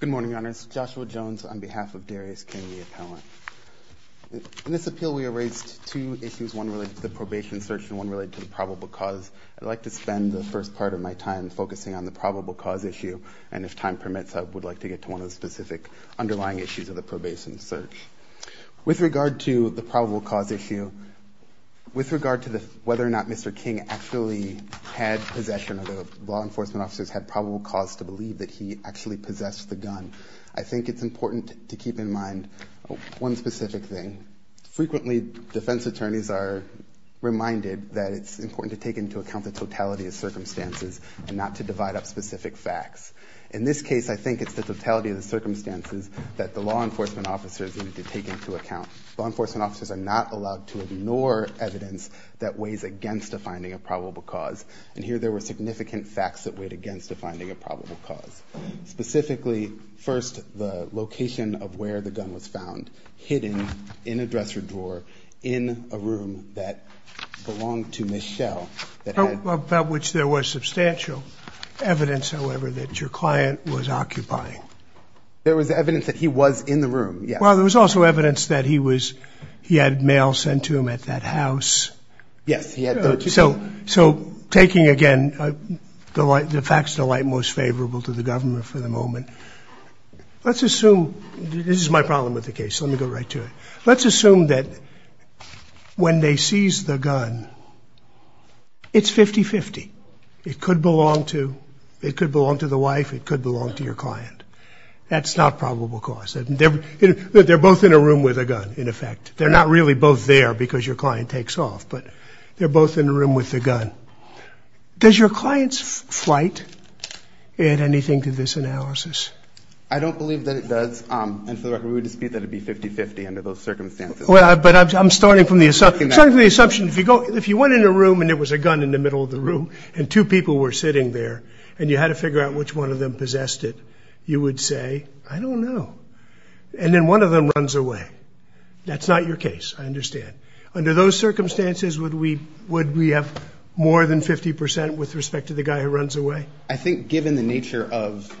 Good morning, Your Honors. Joshua Jones on behalf of Darius King, the appellant. In this appeal, we erased two issues, one related to the probation search and one related to the probable cause. I'd like to spend the first part of my time focusing on the probable cause issue, and if time permits, I would like to get to one of the specific underlying issues of the probation search. With regard to the probable cause issue, with regard to not Mr. King actually had possession of the law enforcement officers had probable cause to believe that he actually possessed the gun, I think it's important to keep in mind one specific thing. Frequently, defense attorneys are reminded that it's important to take into account the totality of circumstances and not to divide up specific facts. In this case, I think it's the totality of the circumstances that the law enforcement officers need to take into account. Law enforcement officers are not allowed to ignore evidence that weighs against the finding of probable cause, and here there were significant facts that weighed against the finding of probable cause. Specifically, first, the location of where the gun was found, hidden in a dresser drawer in a room that belonged to Ms. Schell, that had... About which there was substantial evidence, however, that your client was occupying. There was evidence that he was in the room, yes. Well, there was also evidence that he was, he had mail sent to him at that house. Yes, he had mail. So, taking again, the facts of the light most favorable to the government for the moment, let's assume, this is my problem with the case, so let me go right to it. Let's assume that when they seize the gun, it's 50-50. It could belong to, it could belong to the gun in effect. They're not really both there because your client takes off, but they're both in the room with the gun. Does your client's flight add anything to this analysis? I don't believe that it does, and for the record, we would dispute that it'd be 50-50 under those circumstances. Well, but I'm starting from the assumption, if you go, if you went in a room and there was a gun in the middle of the room, and two people were sitting there, and you had to figure out which one of them possessed it, you would say, I don't know. And then one of them runs away. That's not your case, I understand. Under those circumstances, would we have more than 50% with respect to the guy who runs away? I think given the nature of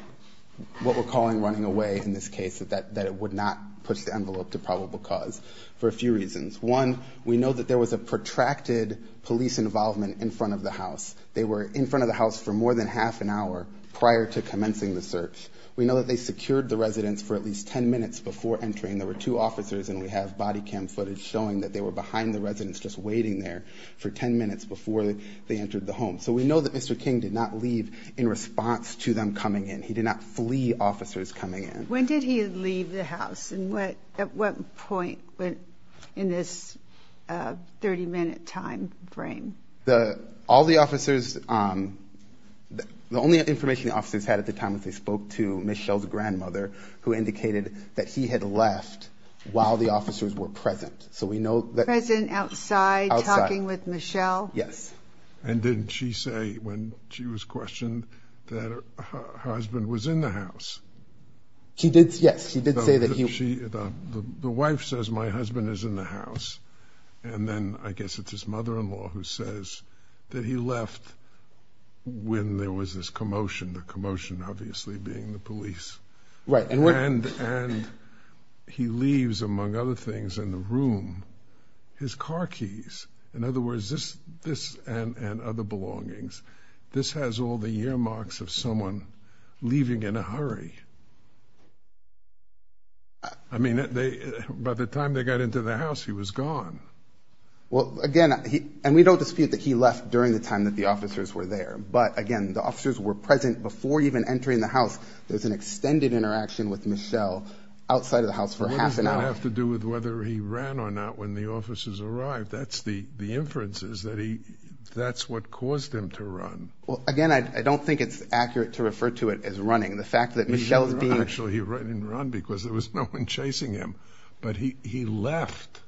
what we're calling running away in this case, that it would not push the envelope to probable cause for a few reasons. One, we know that there was a protracted police involvement in front of the house. They were in front of the house for more than half an hour prior to commencing the search. We know that they secured the train. There were two officers, and we have body cam footage showing that they were behind the residence just waiting there for 10 minutes before they entered the home. So we know that Mr. King did not leave in response to them coming in. He did not flee officers coming in. When did he leave the house, and at what point in this 30-minute time frame? All the officers, the only information the officers had at the time was they spoke to left while the officers were present. So we know that... Present, outside, talking with Michelle? Yes. And didn't she say when she was questioned that her husband was in the house? She did, yes. She did say that he... The wife says my husband is in the house, and then I guess it's his mother-in-law who says that he left when there was this commotion, the commotion obviously being the police. Right. And he leaves, among other things, in the room, his car keys. In other words, this and other belongings. This has all the earmarks of someone leaving in a hurry. I mean, by the time they got into the house, he was gone. Well again, and we don't dispute that he left during the time that the officers were there. But again, the officers were present before even entering the house. There's an extended interaction with Michelle outside of the house for half an hour. What does that have to do with whether he ran or not when the officers arrived? That's the inferences that he... That's what caused him to run. Well, again, I don't think it's accurate to refer to it as running. The fact that Michelle is being... Actually, he ran and ran because there was no one chasing him. But he left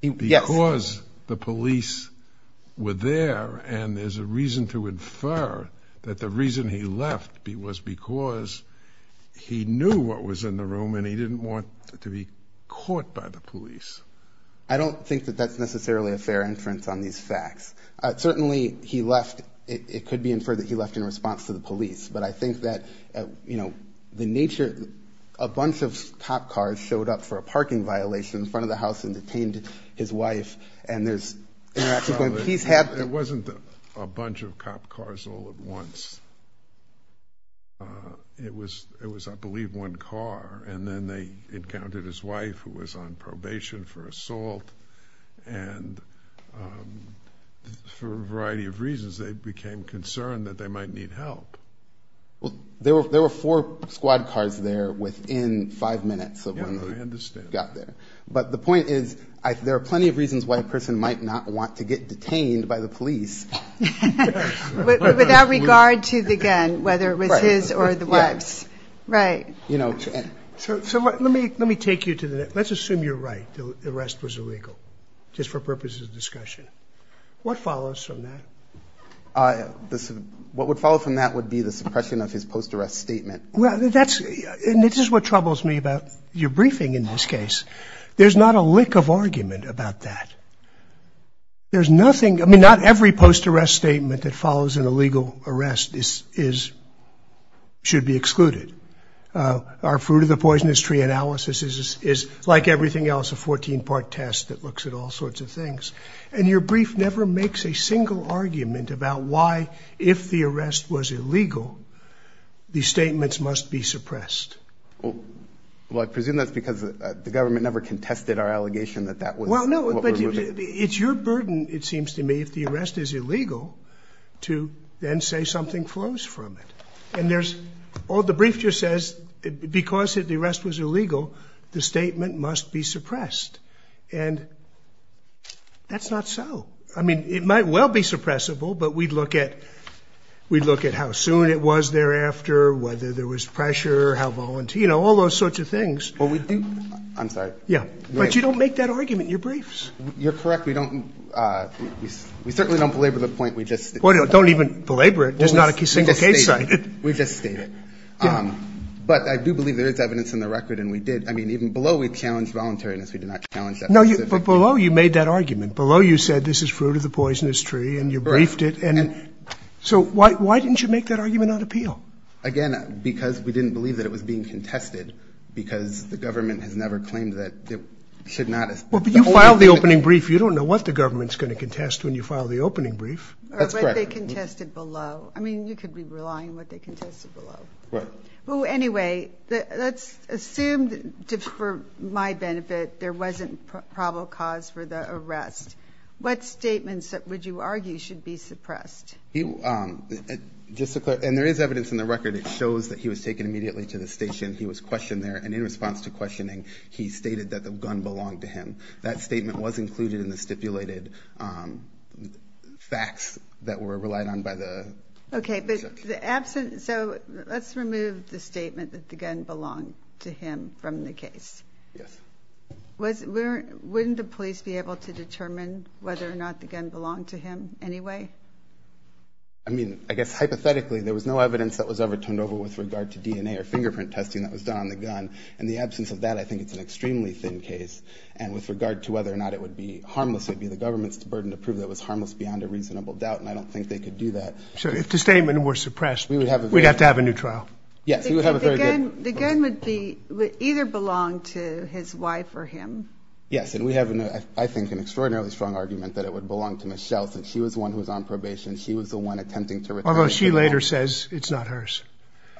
because the he knew what was in the room and he didn't want to be caught by the police. I don't think that that's necessarily a fair inference on these facts. Certainly, he left. It could be inferred that he left in response to the police. But I think that, you know, the nature... A bunch of cop cars showed up for a parking violation in front of the house and detained his wife. And there's interaction going on. He's had... It wasn't a bunch of cop cars all at once. It was, I believe, one car. And then they encountered his wife, who was on probation for assault. And for a variety of reasons, they became concerned that they might need help. There were four squad cars there within five minutes of when they got there. But the point is, there are plenty of reasons why a person might not want to get detained by the police. Without regard to the gun, whether it was his or the wife's. Right. You know... So let me take you to the... Let's assume you're right. The arrest was illegal, just for purposes of discussion. What follows from that? What would follow from that would be the suppression of his post-arrest statement. Well, that's... And this is what troubles me about your briefing in this case. There's not a lick of argument about that. There's nothing... I mean, not every post-arrest statement that follows an illegal arrest should be excluded. Our Fruit of the Poisonous Tree analysis is, like everything else, a 14-part test that looks at all sorts of things. And your brief never makes a single argument about why, if the arrest was illegal, the statements must be suppressed. Well, I presume that's because the government never contested our allegation that that was... Well, no, but it's your burden, it seems to me, if the arrest is illegal, to then say something flows from it. And there's... The brief just says, because the arrest was illegal, the statement must be suppressed. And that's not so. I mean, it might well be suppressible, but we'd look at how soon it was thereafter, whether there was pressure, how... All those sorts of things. Well, we do... I'm sorry. Yeah. But you don't make that argument in your briefs. You're correct. We don't... We certainly don't belabor the point. We just... Don't even belabor it. There's not a single case cited. We just state it. But I do believe there is evidence in the record, and we did... I mean, even below, we challenged voluntariness. We did not challenge that specific... No, but below, you made that argument. Below, you said, this is Fruit of the Poisonous Tree, and you briefed it, and... So why didn't you make that argument on appeal? Again, because we didn't believe that it was being contested, because the government has never claimed that it should not... Well, but you filed the opening brief. You don't know what the government's going to contest when you file the opening brief. That's correct. Or what they contested below. I mean, you could be relying on what they contested below. Right. Well, anyway, let's assume that, for my benefit, there wasn't probable cause for the arrest. What statements would you argue should be suppressed? Just to clarify, and there is evidence in the record. It shows that he was taken immediately to the station. He was questioned there, and in response to questioning, he stated that the gun belonged to him. That statement was included in the stipulated facts that were relied on by the... Okay, but the absent... So let's remove the statement that the gun belonged to him from the case. Yes. Wouldn't the police be able to determine whether or not the gun belonged to him anyway? I mean, I guess, hypothetically, there was no evidence that was ever turned over with regard to DNA or fingerprint testing that was done on the gun. In the absence of that, I think it's an extremely thin case, and with regard to whether or not it would be harmless, it would be the government's burden to prove that it was harmless beyond a reasonable doubt, and I don't think they could do that. So if the statement were suppressed, we'd have to have a new trial? Yes, we would have a very good... The gun would be... would either belong to his wife or him? Yes, and we have, I think, an extraordinarily strong argument that it would belong to Ms. Schell, since she was the one who was on probation. She was the one attempting to... Although she later says it's not hers.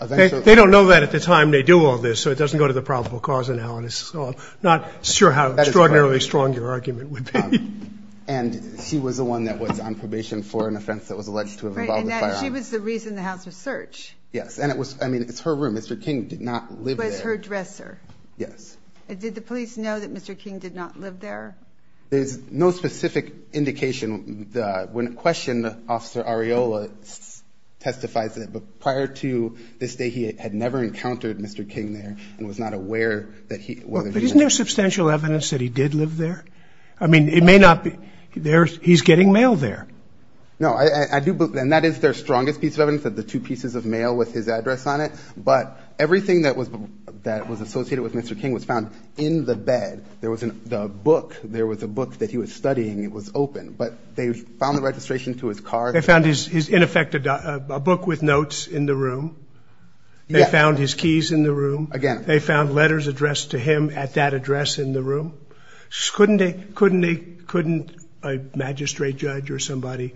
They don't know that at the time they do all this, so it doesn't go to the probable cause analysis, so I'm not sure how extraordinarily strong your argument would be. And she was the one that was on probation for an offense that was alleged to have involved firearms. Right, and she was the reason the House was searched. Yes, and it was... I mean, it's her room. Mr. King did not live there. It was her dresser. Yes. And did the police know that Mr. King did not live there? There's no specific indication. When questioned, Officer Arreola testifies that prior to this day, he had never encountered Mr. King there and was not aware that he... But isn't there substantial evidence that he did live there? I mean, it may not be... He's getting mail there. No, I do believe... And that is their strongest piece of evidence, that the two pieces of mail with his address on it, but everything that was associated with Mr. King was found in the bed. There was a book that he was studying. It was open, but they found the registration to his car. They found his... In effect, a book with notes in the room. Yes. They found his keys in the room. Again. They found letters addressed to him at that address in the room. Couldn't a magistrate judge or somebody,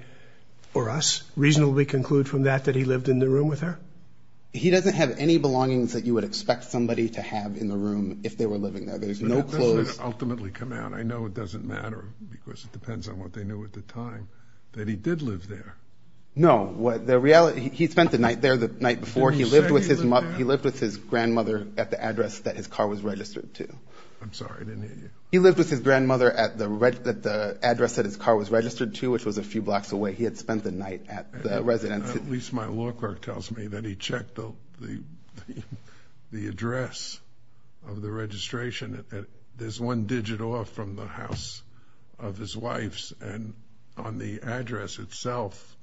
or us, reasonably conclude from that that he lived in the room with her? He doesn't have any belongings that you would expect somebody to have in the room if they were living there. There's no... But that doesn't ultimately come out. I know it doesn't matter, because it depends on what they knew at the time, that he did live there. No. The reality... He spent the night there the night before. Didn't he say he lived there? He lived with his grandmother at the address that his car was registered to. I'm sorry. I didn't hear you. He lived with his grandmother at the address that his car was registered to, which was a few blocks away. He had spent the night at the residence. At least my law clerk tells me that he checked the address of the registration. There's one digit off from the house of his wife's, and on the address itself,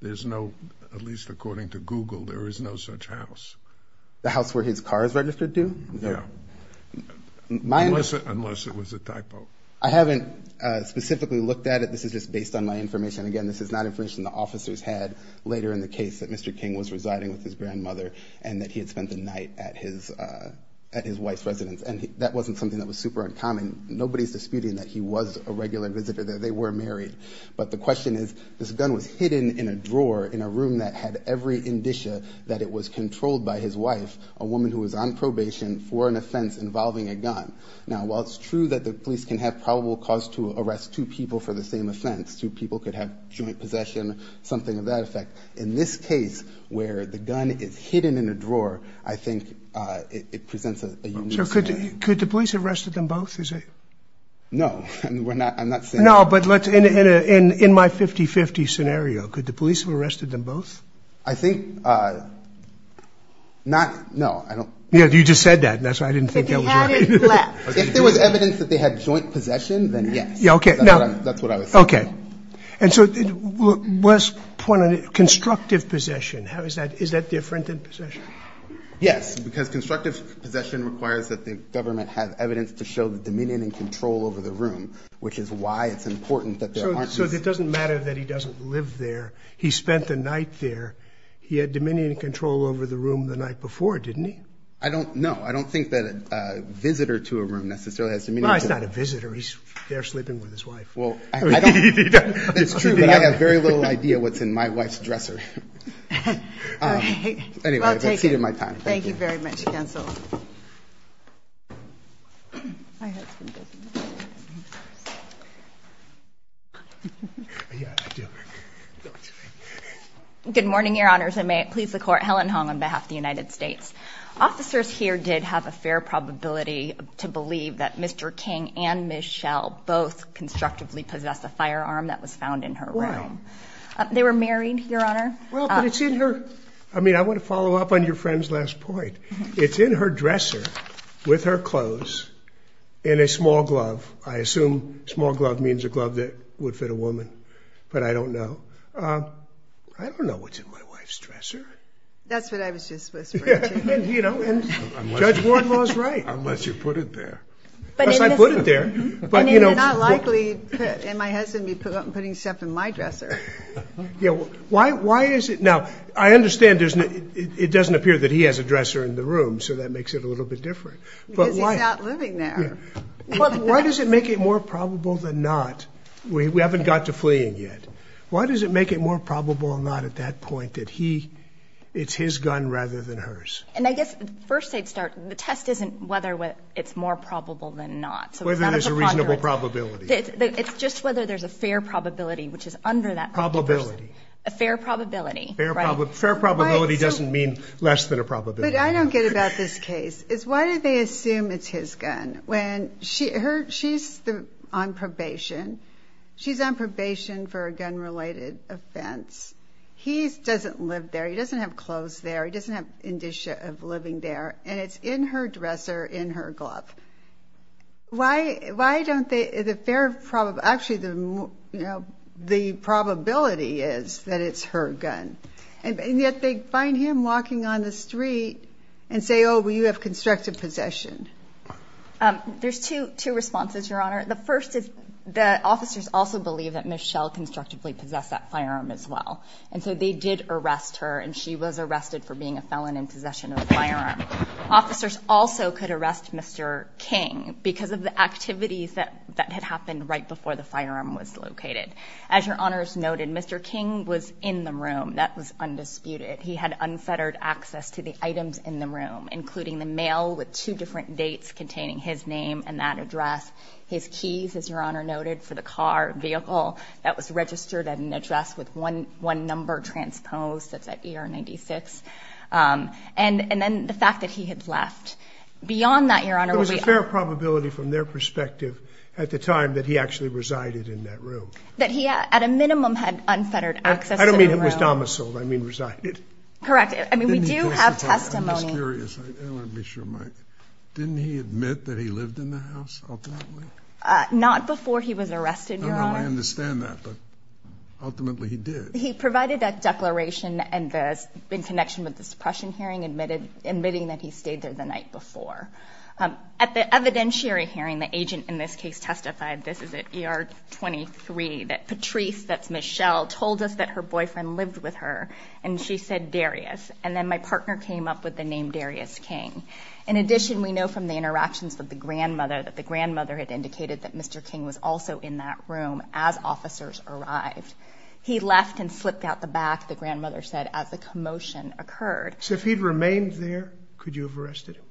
there's no... At least according to Google, there is no such house. The house where his car is registered to? Yeah. Unless it was a typo. I haven't specifically looked at it. This is just based on my information. Again, this is not information the officers had later in the case that Mr. King was residing with his grandmother, and that he had spent the night at his wife's residence. And that wasn't something that was super uncommon. Nobody's disputing that he was a regular visitor there. They were married. But the question is, this gun was hidden in a drawer in a room that had every indicia that it was controlled by his wife, a woman who was on probation for an offense involving a gun. Now, while it's true that the police can have probable cause to arrest two people for the same offense, two people could have joint possession, something of that effect, in this case, where the gun is hidden in a drawer, I think it presents a unique scenario. So could the police have arrested them both? No. I'm not saying... No, but in my 50-50 scenario, could the police have arrested them both? I think... Not... No, I don't... You just said that, and that's why I didn't think that was right. If he had it left. If there was evidence that they had joint possession, then yes. Yeah, okay. That's what I was saying. Okay. And so, let's point on it. Constructive possession. Is that different than possession? Yes, because constructive possession requires that the government have evidence to show the dominion and control over the room, which is why it's important that there aren't... So it doesn't matter that he doesn't live there. He spent the night there. He had dominion and control over the room the night before, didn't he? I don't... No. I don't think that a visitor to a room necessarily has dominion. Well, he's not a visitor. He's there sleeping with his wife. Well, I don't... It's true, but I have very little idea what's in my wife's dresser. Anyway, that's the end of my time. Thank you very much, counsel. Good morning, your honors. I may please the court. Helen Hong on behalf of the United States. Officers here did have a fair probability to believe that Mr. King and Ms. Schell both constructively possessed a firearm that was found in her room. Wow. They were married, your honor. Well, but it's in her... I mean, I want to follow up on your friend's last point. It's in her dresser. It's in her dresser with her clothes in a small glove. I assume small glove means a glove that would fit a woman, but I don't know. I don't know what's in my wife's dresser. That's what I was just whispering to you. And, you know, Judge Wardlaw's right. Unless you put it there. Unless I put it there. I mean, they're not likely, in my head, to be putting stuff in my dresser. Yeah, why is it... Now, I understand it doesn't appear that he has a dresser in the room, so that makes it a little bit different. Because he's not living there. But why does it make it more probable than not? We haven't got to fleeing yet. Why does it make it more probable than not at that point that it's his gun rather than hers? And I guess, first I'd start, the test isn't whether it's more probable than not. Whether there's a reasonable probability. It's just whether there's a fair probability, which is under that... Probability. A fair probability. Fair probability doesn't mean less than a probability. But I don't get about this case. Why do they assume it's his gun? When she's on probation. She's on probation for a gun-related offense. He doesn't live there. He doesn't have clothes there. He doesn't have indicia of living there. And it's in her dresser, in her glove. Why don't they... Actually, the probability is that it's her gun. And yet they find him walking on the street and say, oh, well, you have constructive possession. There's two responses, Your Honor. The first is that officers also believe that Michelle constructively possessed that firearm as well. And so they did arrest her. And she was arrested for being a felon in possession of a firearm. Officers also could arrest Mr. King because of the activities that had happened right before the firearm was located. As Your Honors noted, Mr. King was in the room. That was undisputed. He had unfettered access to the items in the room, including the mail with two different dates containing his name and that address. His keys, as Your Honor noted, for the car, vehicle, that was registered at an address with one number transposed. That's at ER 96. And then the fact that he had left. Beyond that, Your Honor... There was a fair probability from their perspective at the time that he actually resided in that room. That he, at a minimum, had unfettered access to the room. I don't mean he was domiciled. I mean resided. Correct. I mean, we do have testimony. I'm just curious. I want to be sure of my... Didn't he admit that he lived in the house ultimately? Not before he was arrested, Your Honor. I understand that, but ultimately he did. He provided a declaration in connection with the suppression hearing, admitting that he stayed there the night before. At the evidentiary hearing, the agent in this case testified, this is at ER 23, that Patrice, that's Michelle, told us that her boyfriend lived with her. And she said Darius. And then my partner came up with the name Darius King. In addition, we know from the interactions that the grandmother had indicated that Mr. King was also in that room as officers arrived. He left and slipped out the back, the grandmother said, as the commotion occurred. So if he'd remained there, could you have arrested him?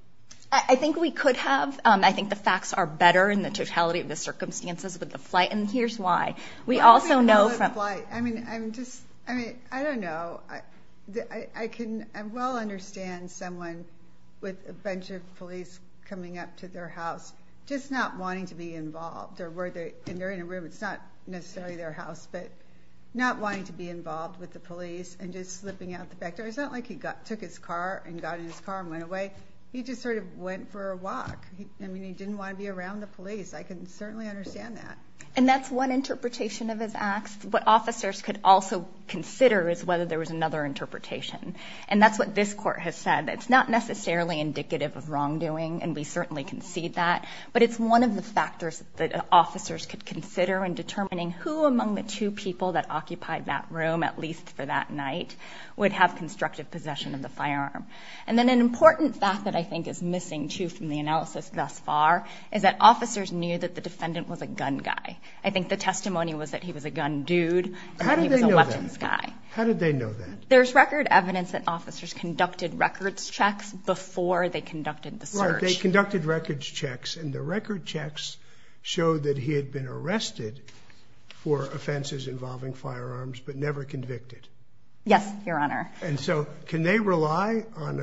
I think we could have. I think the facts are better in the totality of the circumstances with the flight. And here's why. We also know from... I mean, I'm just... I mean, I don't know. I can well understand someone with a bunch of police coming up to their house just not wanting to be involved. And they're in a room. It's not necessarily their house. But not wanting to be involved with the police and just slipping out the back door. It's not like he took his car and got in his car and went away. He just sort of went for a walk. I mean, he didn't want to be around the police. I can certainly understand that. And that's one interpretation of his acts. What officers could also consider is whether there was another interpretation. And that's what this court has said. It's not necessarily indicative of wrongdoing, and we certainly concede that. But it's one of the factors that officers could consider in determining who among the two people that occupied that room, at least for that night, would have constructive possession of the firearm. And then an important fact that I think is missing, too, from the analysis thus far, is that officers knew that the defendant was a gun guy. I think the testimony was that he was a gun dude, and he was a weapons guy. How did they know that? There's record evidence that officers conducted records checks before they conducted the search. Right, they conducted records checks. And the record checks showed that he had been arrested for offenses involving firearms, but never convicted. Yes, Your Honor. And so can they rely on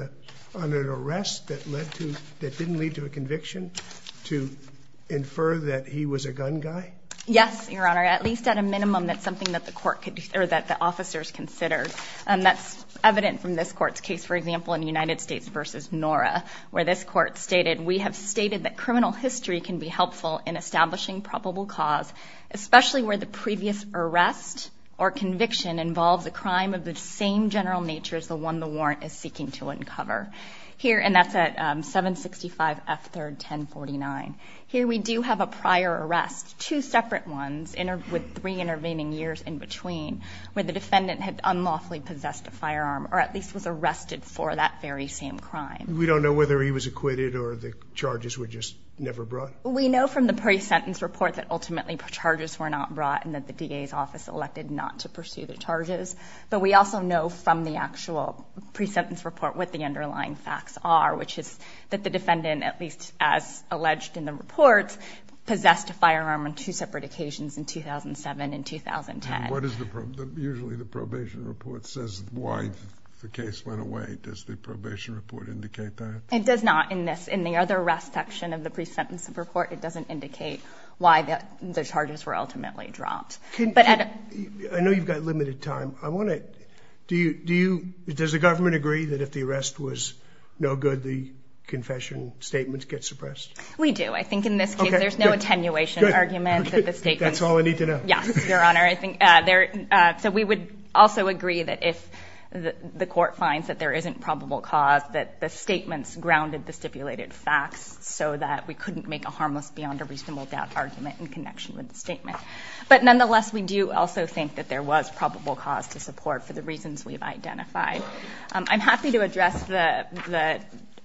an arrest that didn't lead to a conviction to infer that he was a gun guy? Yes, Your Honor. At least at a minimum, that's something that the court could... or that the officers considered. And that's evident from this court's case, for example, in United States v. Nora, where this court stated, that criminal history can be helpful in establishing probable cause, especially where the previous arrest or conviction involves a crime of the same general nature as the one the warrant is seeking to uncover. Here, and that's at 765 F. 3rd 1049. Here we do have a prior arrest, two separate ones, with three intervening years in between, where the defendant had unlawfully possessed a firearm, or at least was arrested for that very same crime. We don't know whether he was acquitted or the charges were just never brought? We know from the pre-sentence report that ultimately charges were not brought and that the DA's office elected not to pursue the charges. But we also know from the actual pre-sentence report what the underlying facts are, which is that the defendant, at least as alleged in the reports, possessed a firearm on two separate occasions in 2007 and 2010. And what is the... usually the probation report says why the case went away. Does the probation report indicate that? It does not in the other arrest section of the pre-sentence report. It doesn't indicate why the charges were ultimately dropped. I know you've got limited time. I want to... Does the government agree that if the arrest was no good, the confession statements get suppressed? We do. I think in this case there's no attenuation argument that the statements... That's all I need to know. Yes, Your Honor. So we would also agree that if the court finds that there isn't probable cause, that the statements grounded the stipulated facts so that we couldn't make a harmless beyond a reasonable doubt argument in connection with the statement. But nonetheless, we do also think that there was probable cause to support for the reasons we've identified. I'm happy to address the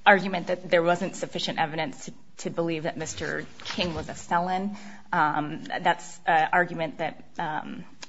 argument that there wasn't sufficient evidence to believe that Mr. King was a felon. That's an argument that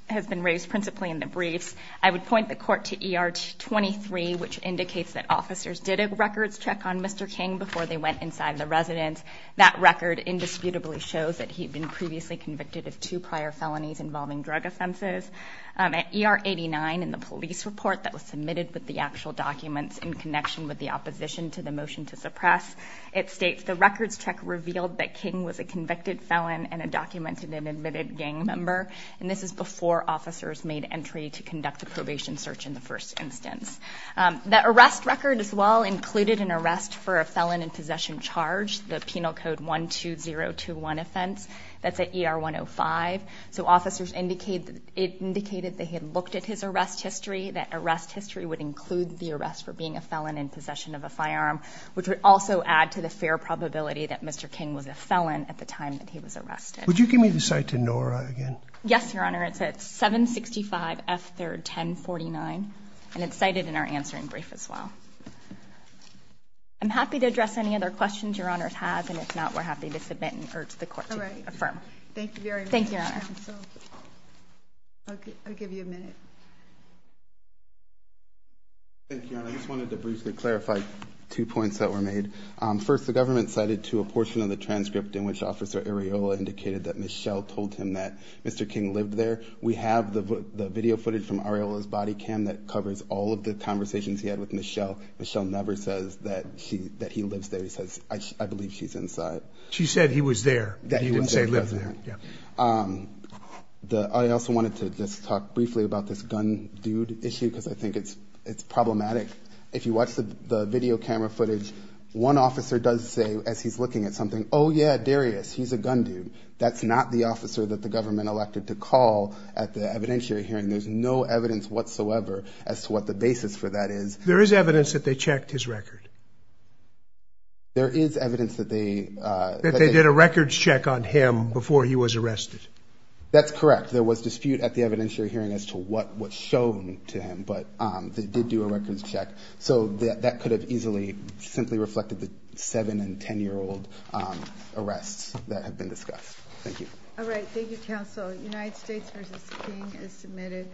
has been raised principally in the briefs. I would point the court to ER 23, which indicates that officers did a records check on Mr. King before they went inside the residence. That record indisputably shows that he'd been previously convicted of two prior felonies involving drug offenses. At ER 89, in the police report that was submitted with the actual documents in connection with the opposition to the motion to suppress, it states the records check revealed that King was a convicted felon and a documented and admitted gang member. And this is before officers made entry to conduct a probation search in the first instance. The arrest record as well included an arrest for a felon in possession charge, the penal code 12021 offense. That's at ER 105. So officers indicated that he had looked at his arrest history, that arrest history would include the arrest for being a felon in possession of a firearm, which would also add to the fair probability that Mr. King was a felon at the time that he was arrested. Would you give me the cite to NORA again? Yes, Your Honor. It's at 765 F3rd 1049, and it's cited in our answering brief as well. I'm happy to address any other questions Your Honor has, and if not, we're happy to submit and urge the court to affirm. Thank you very much. Thank you, Your Honor. I'll give you a minute. Thank you, Your Honor. I just wanted to briefly clarify two points that were made. First, the government cited to a portion of the transcript in which Officer Areola indicated that Michelle told him that Mr. King lived there. We have the video footage from Areola's body cam that covers all of the conversations he had with Michelle. Michelle never says that he lives there. She says, I believe she's inside. She said he was there. He didn't say he lived there. I also wanted to just talk briefly about this gun dude issue because I think it's problematic. If you watch the video camera footage, one officer does say as he's looking at something, oh yeah, Darius, he's a gun dude. That's not the officer that the government elected to call at the evidentiary hearing. There's no evidence whatsoever as to what the basis for that is. There is evidence that they checked his record. There is evidence that they... That they did a records check on him before he was arrested. That's correct. There was dispute at the evidentiary hearing as to what was shown to him, but they did do a records check. So that could have easily simply reflected some of the 7- and 10-year-old arrests that have been discussed. Thank you. All right, thank you, counsel. United States v. King is submitted.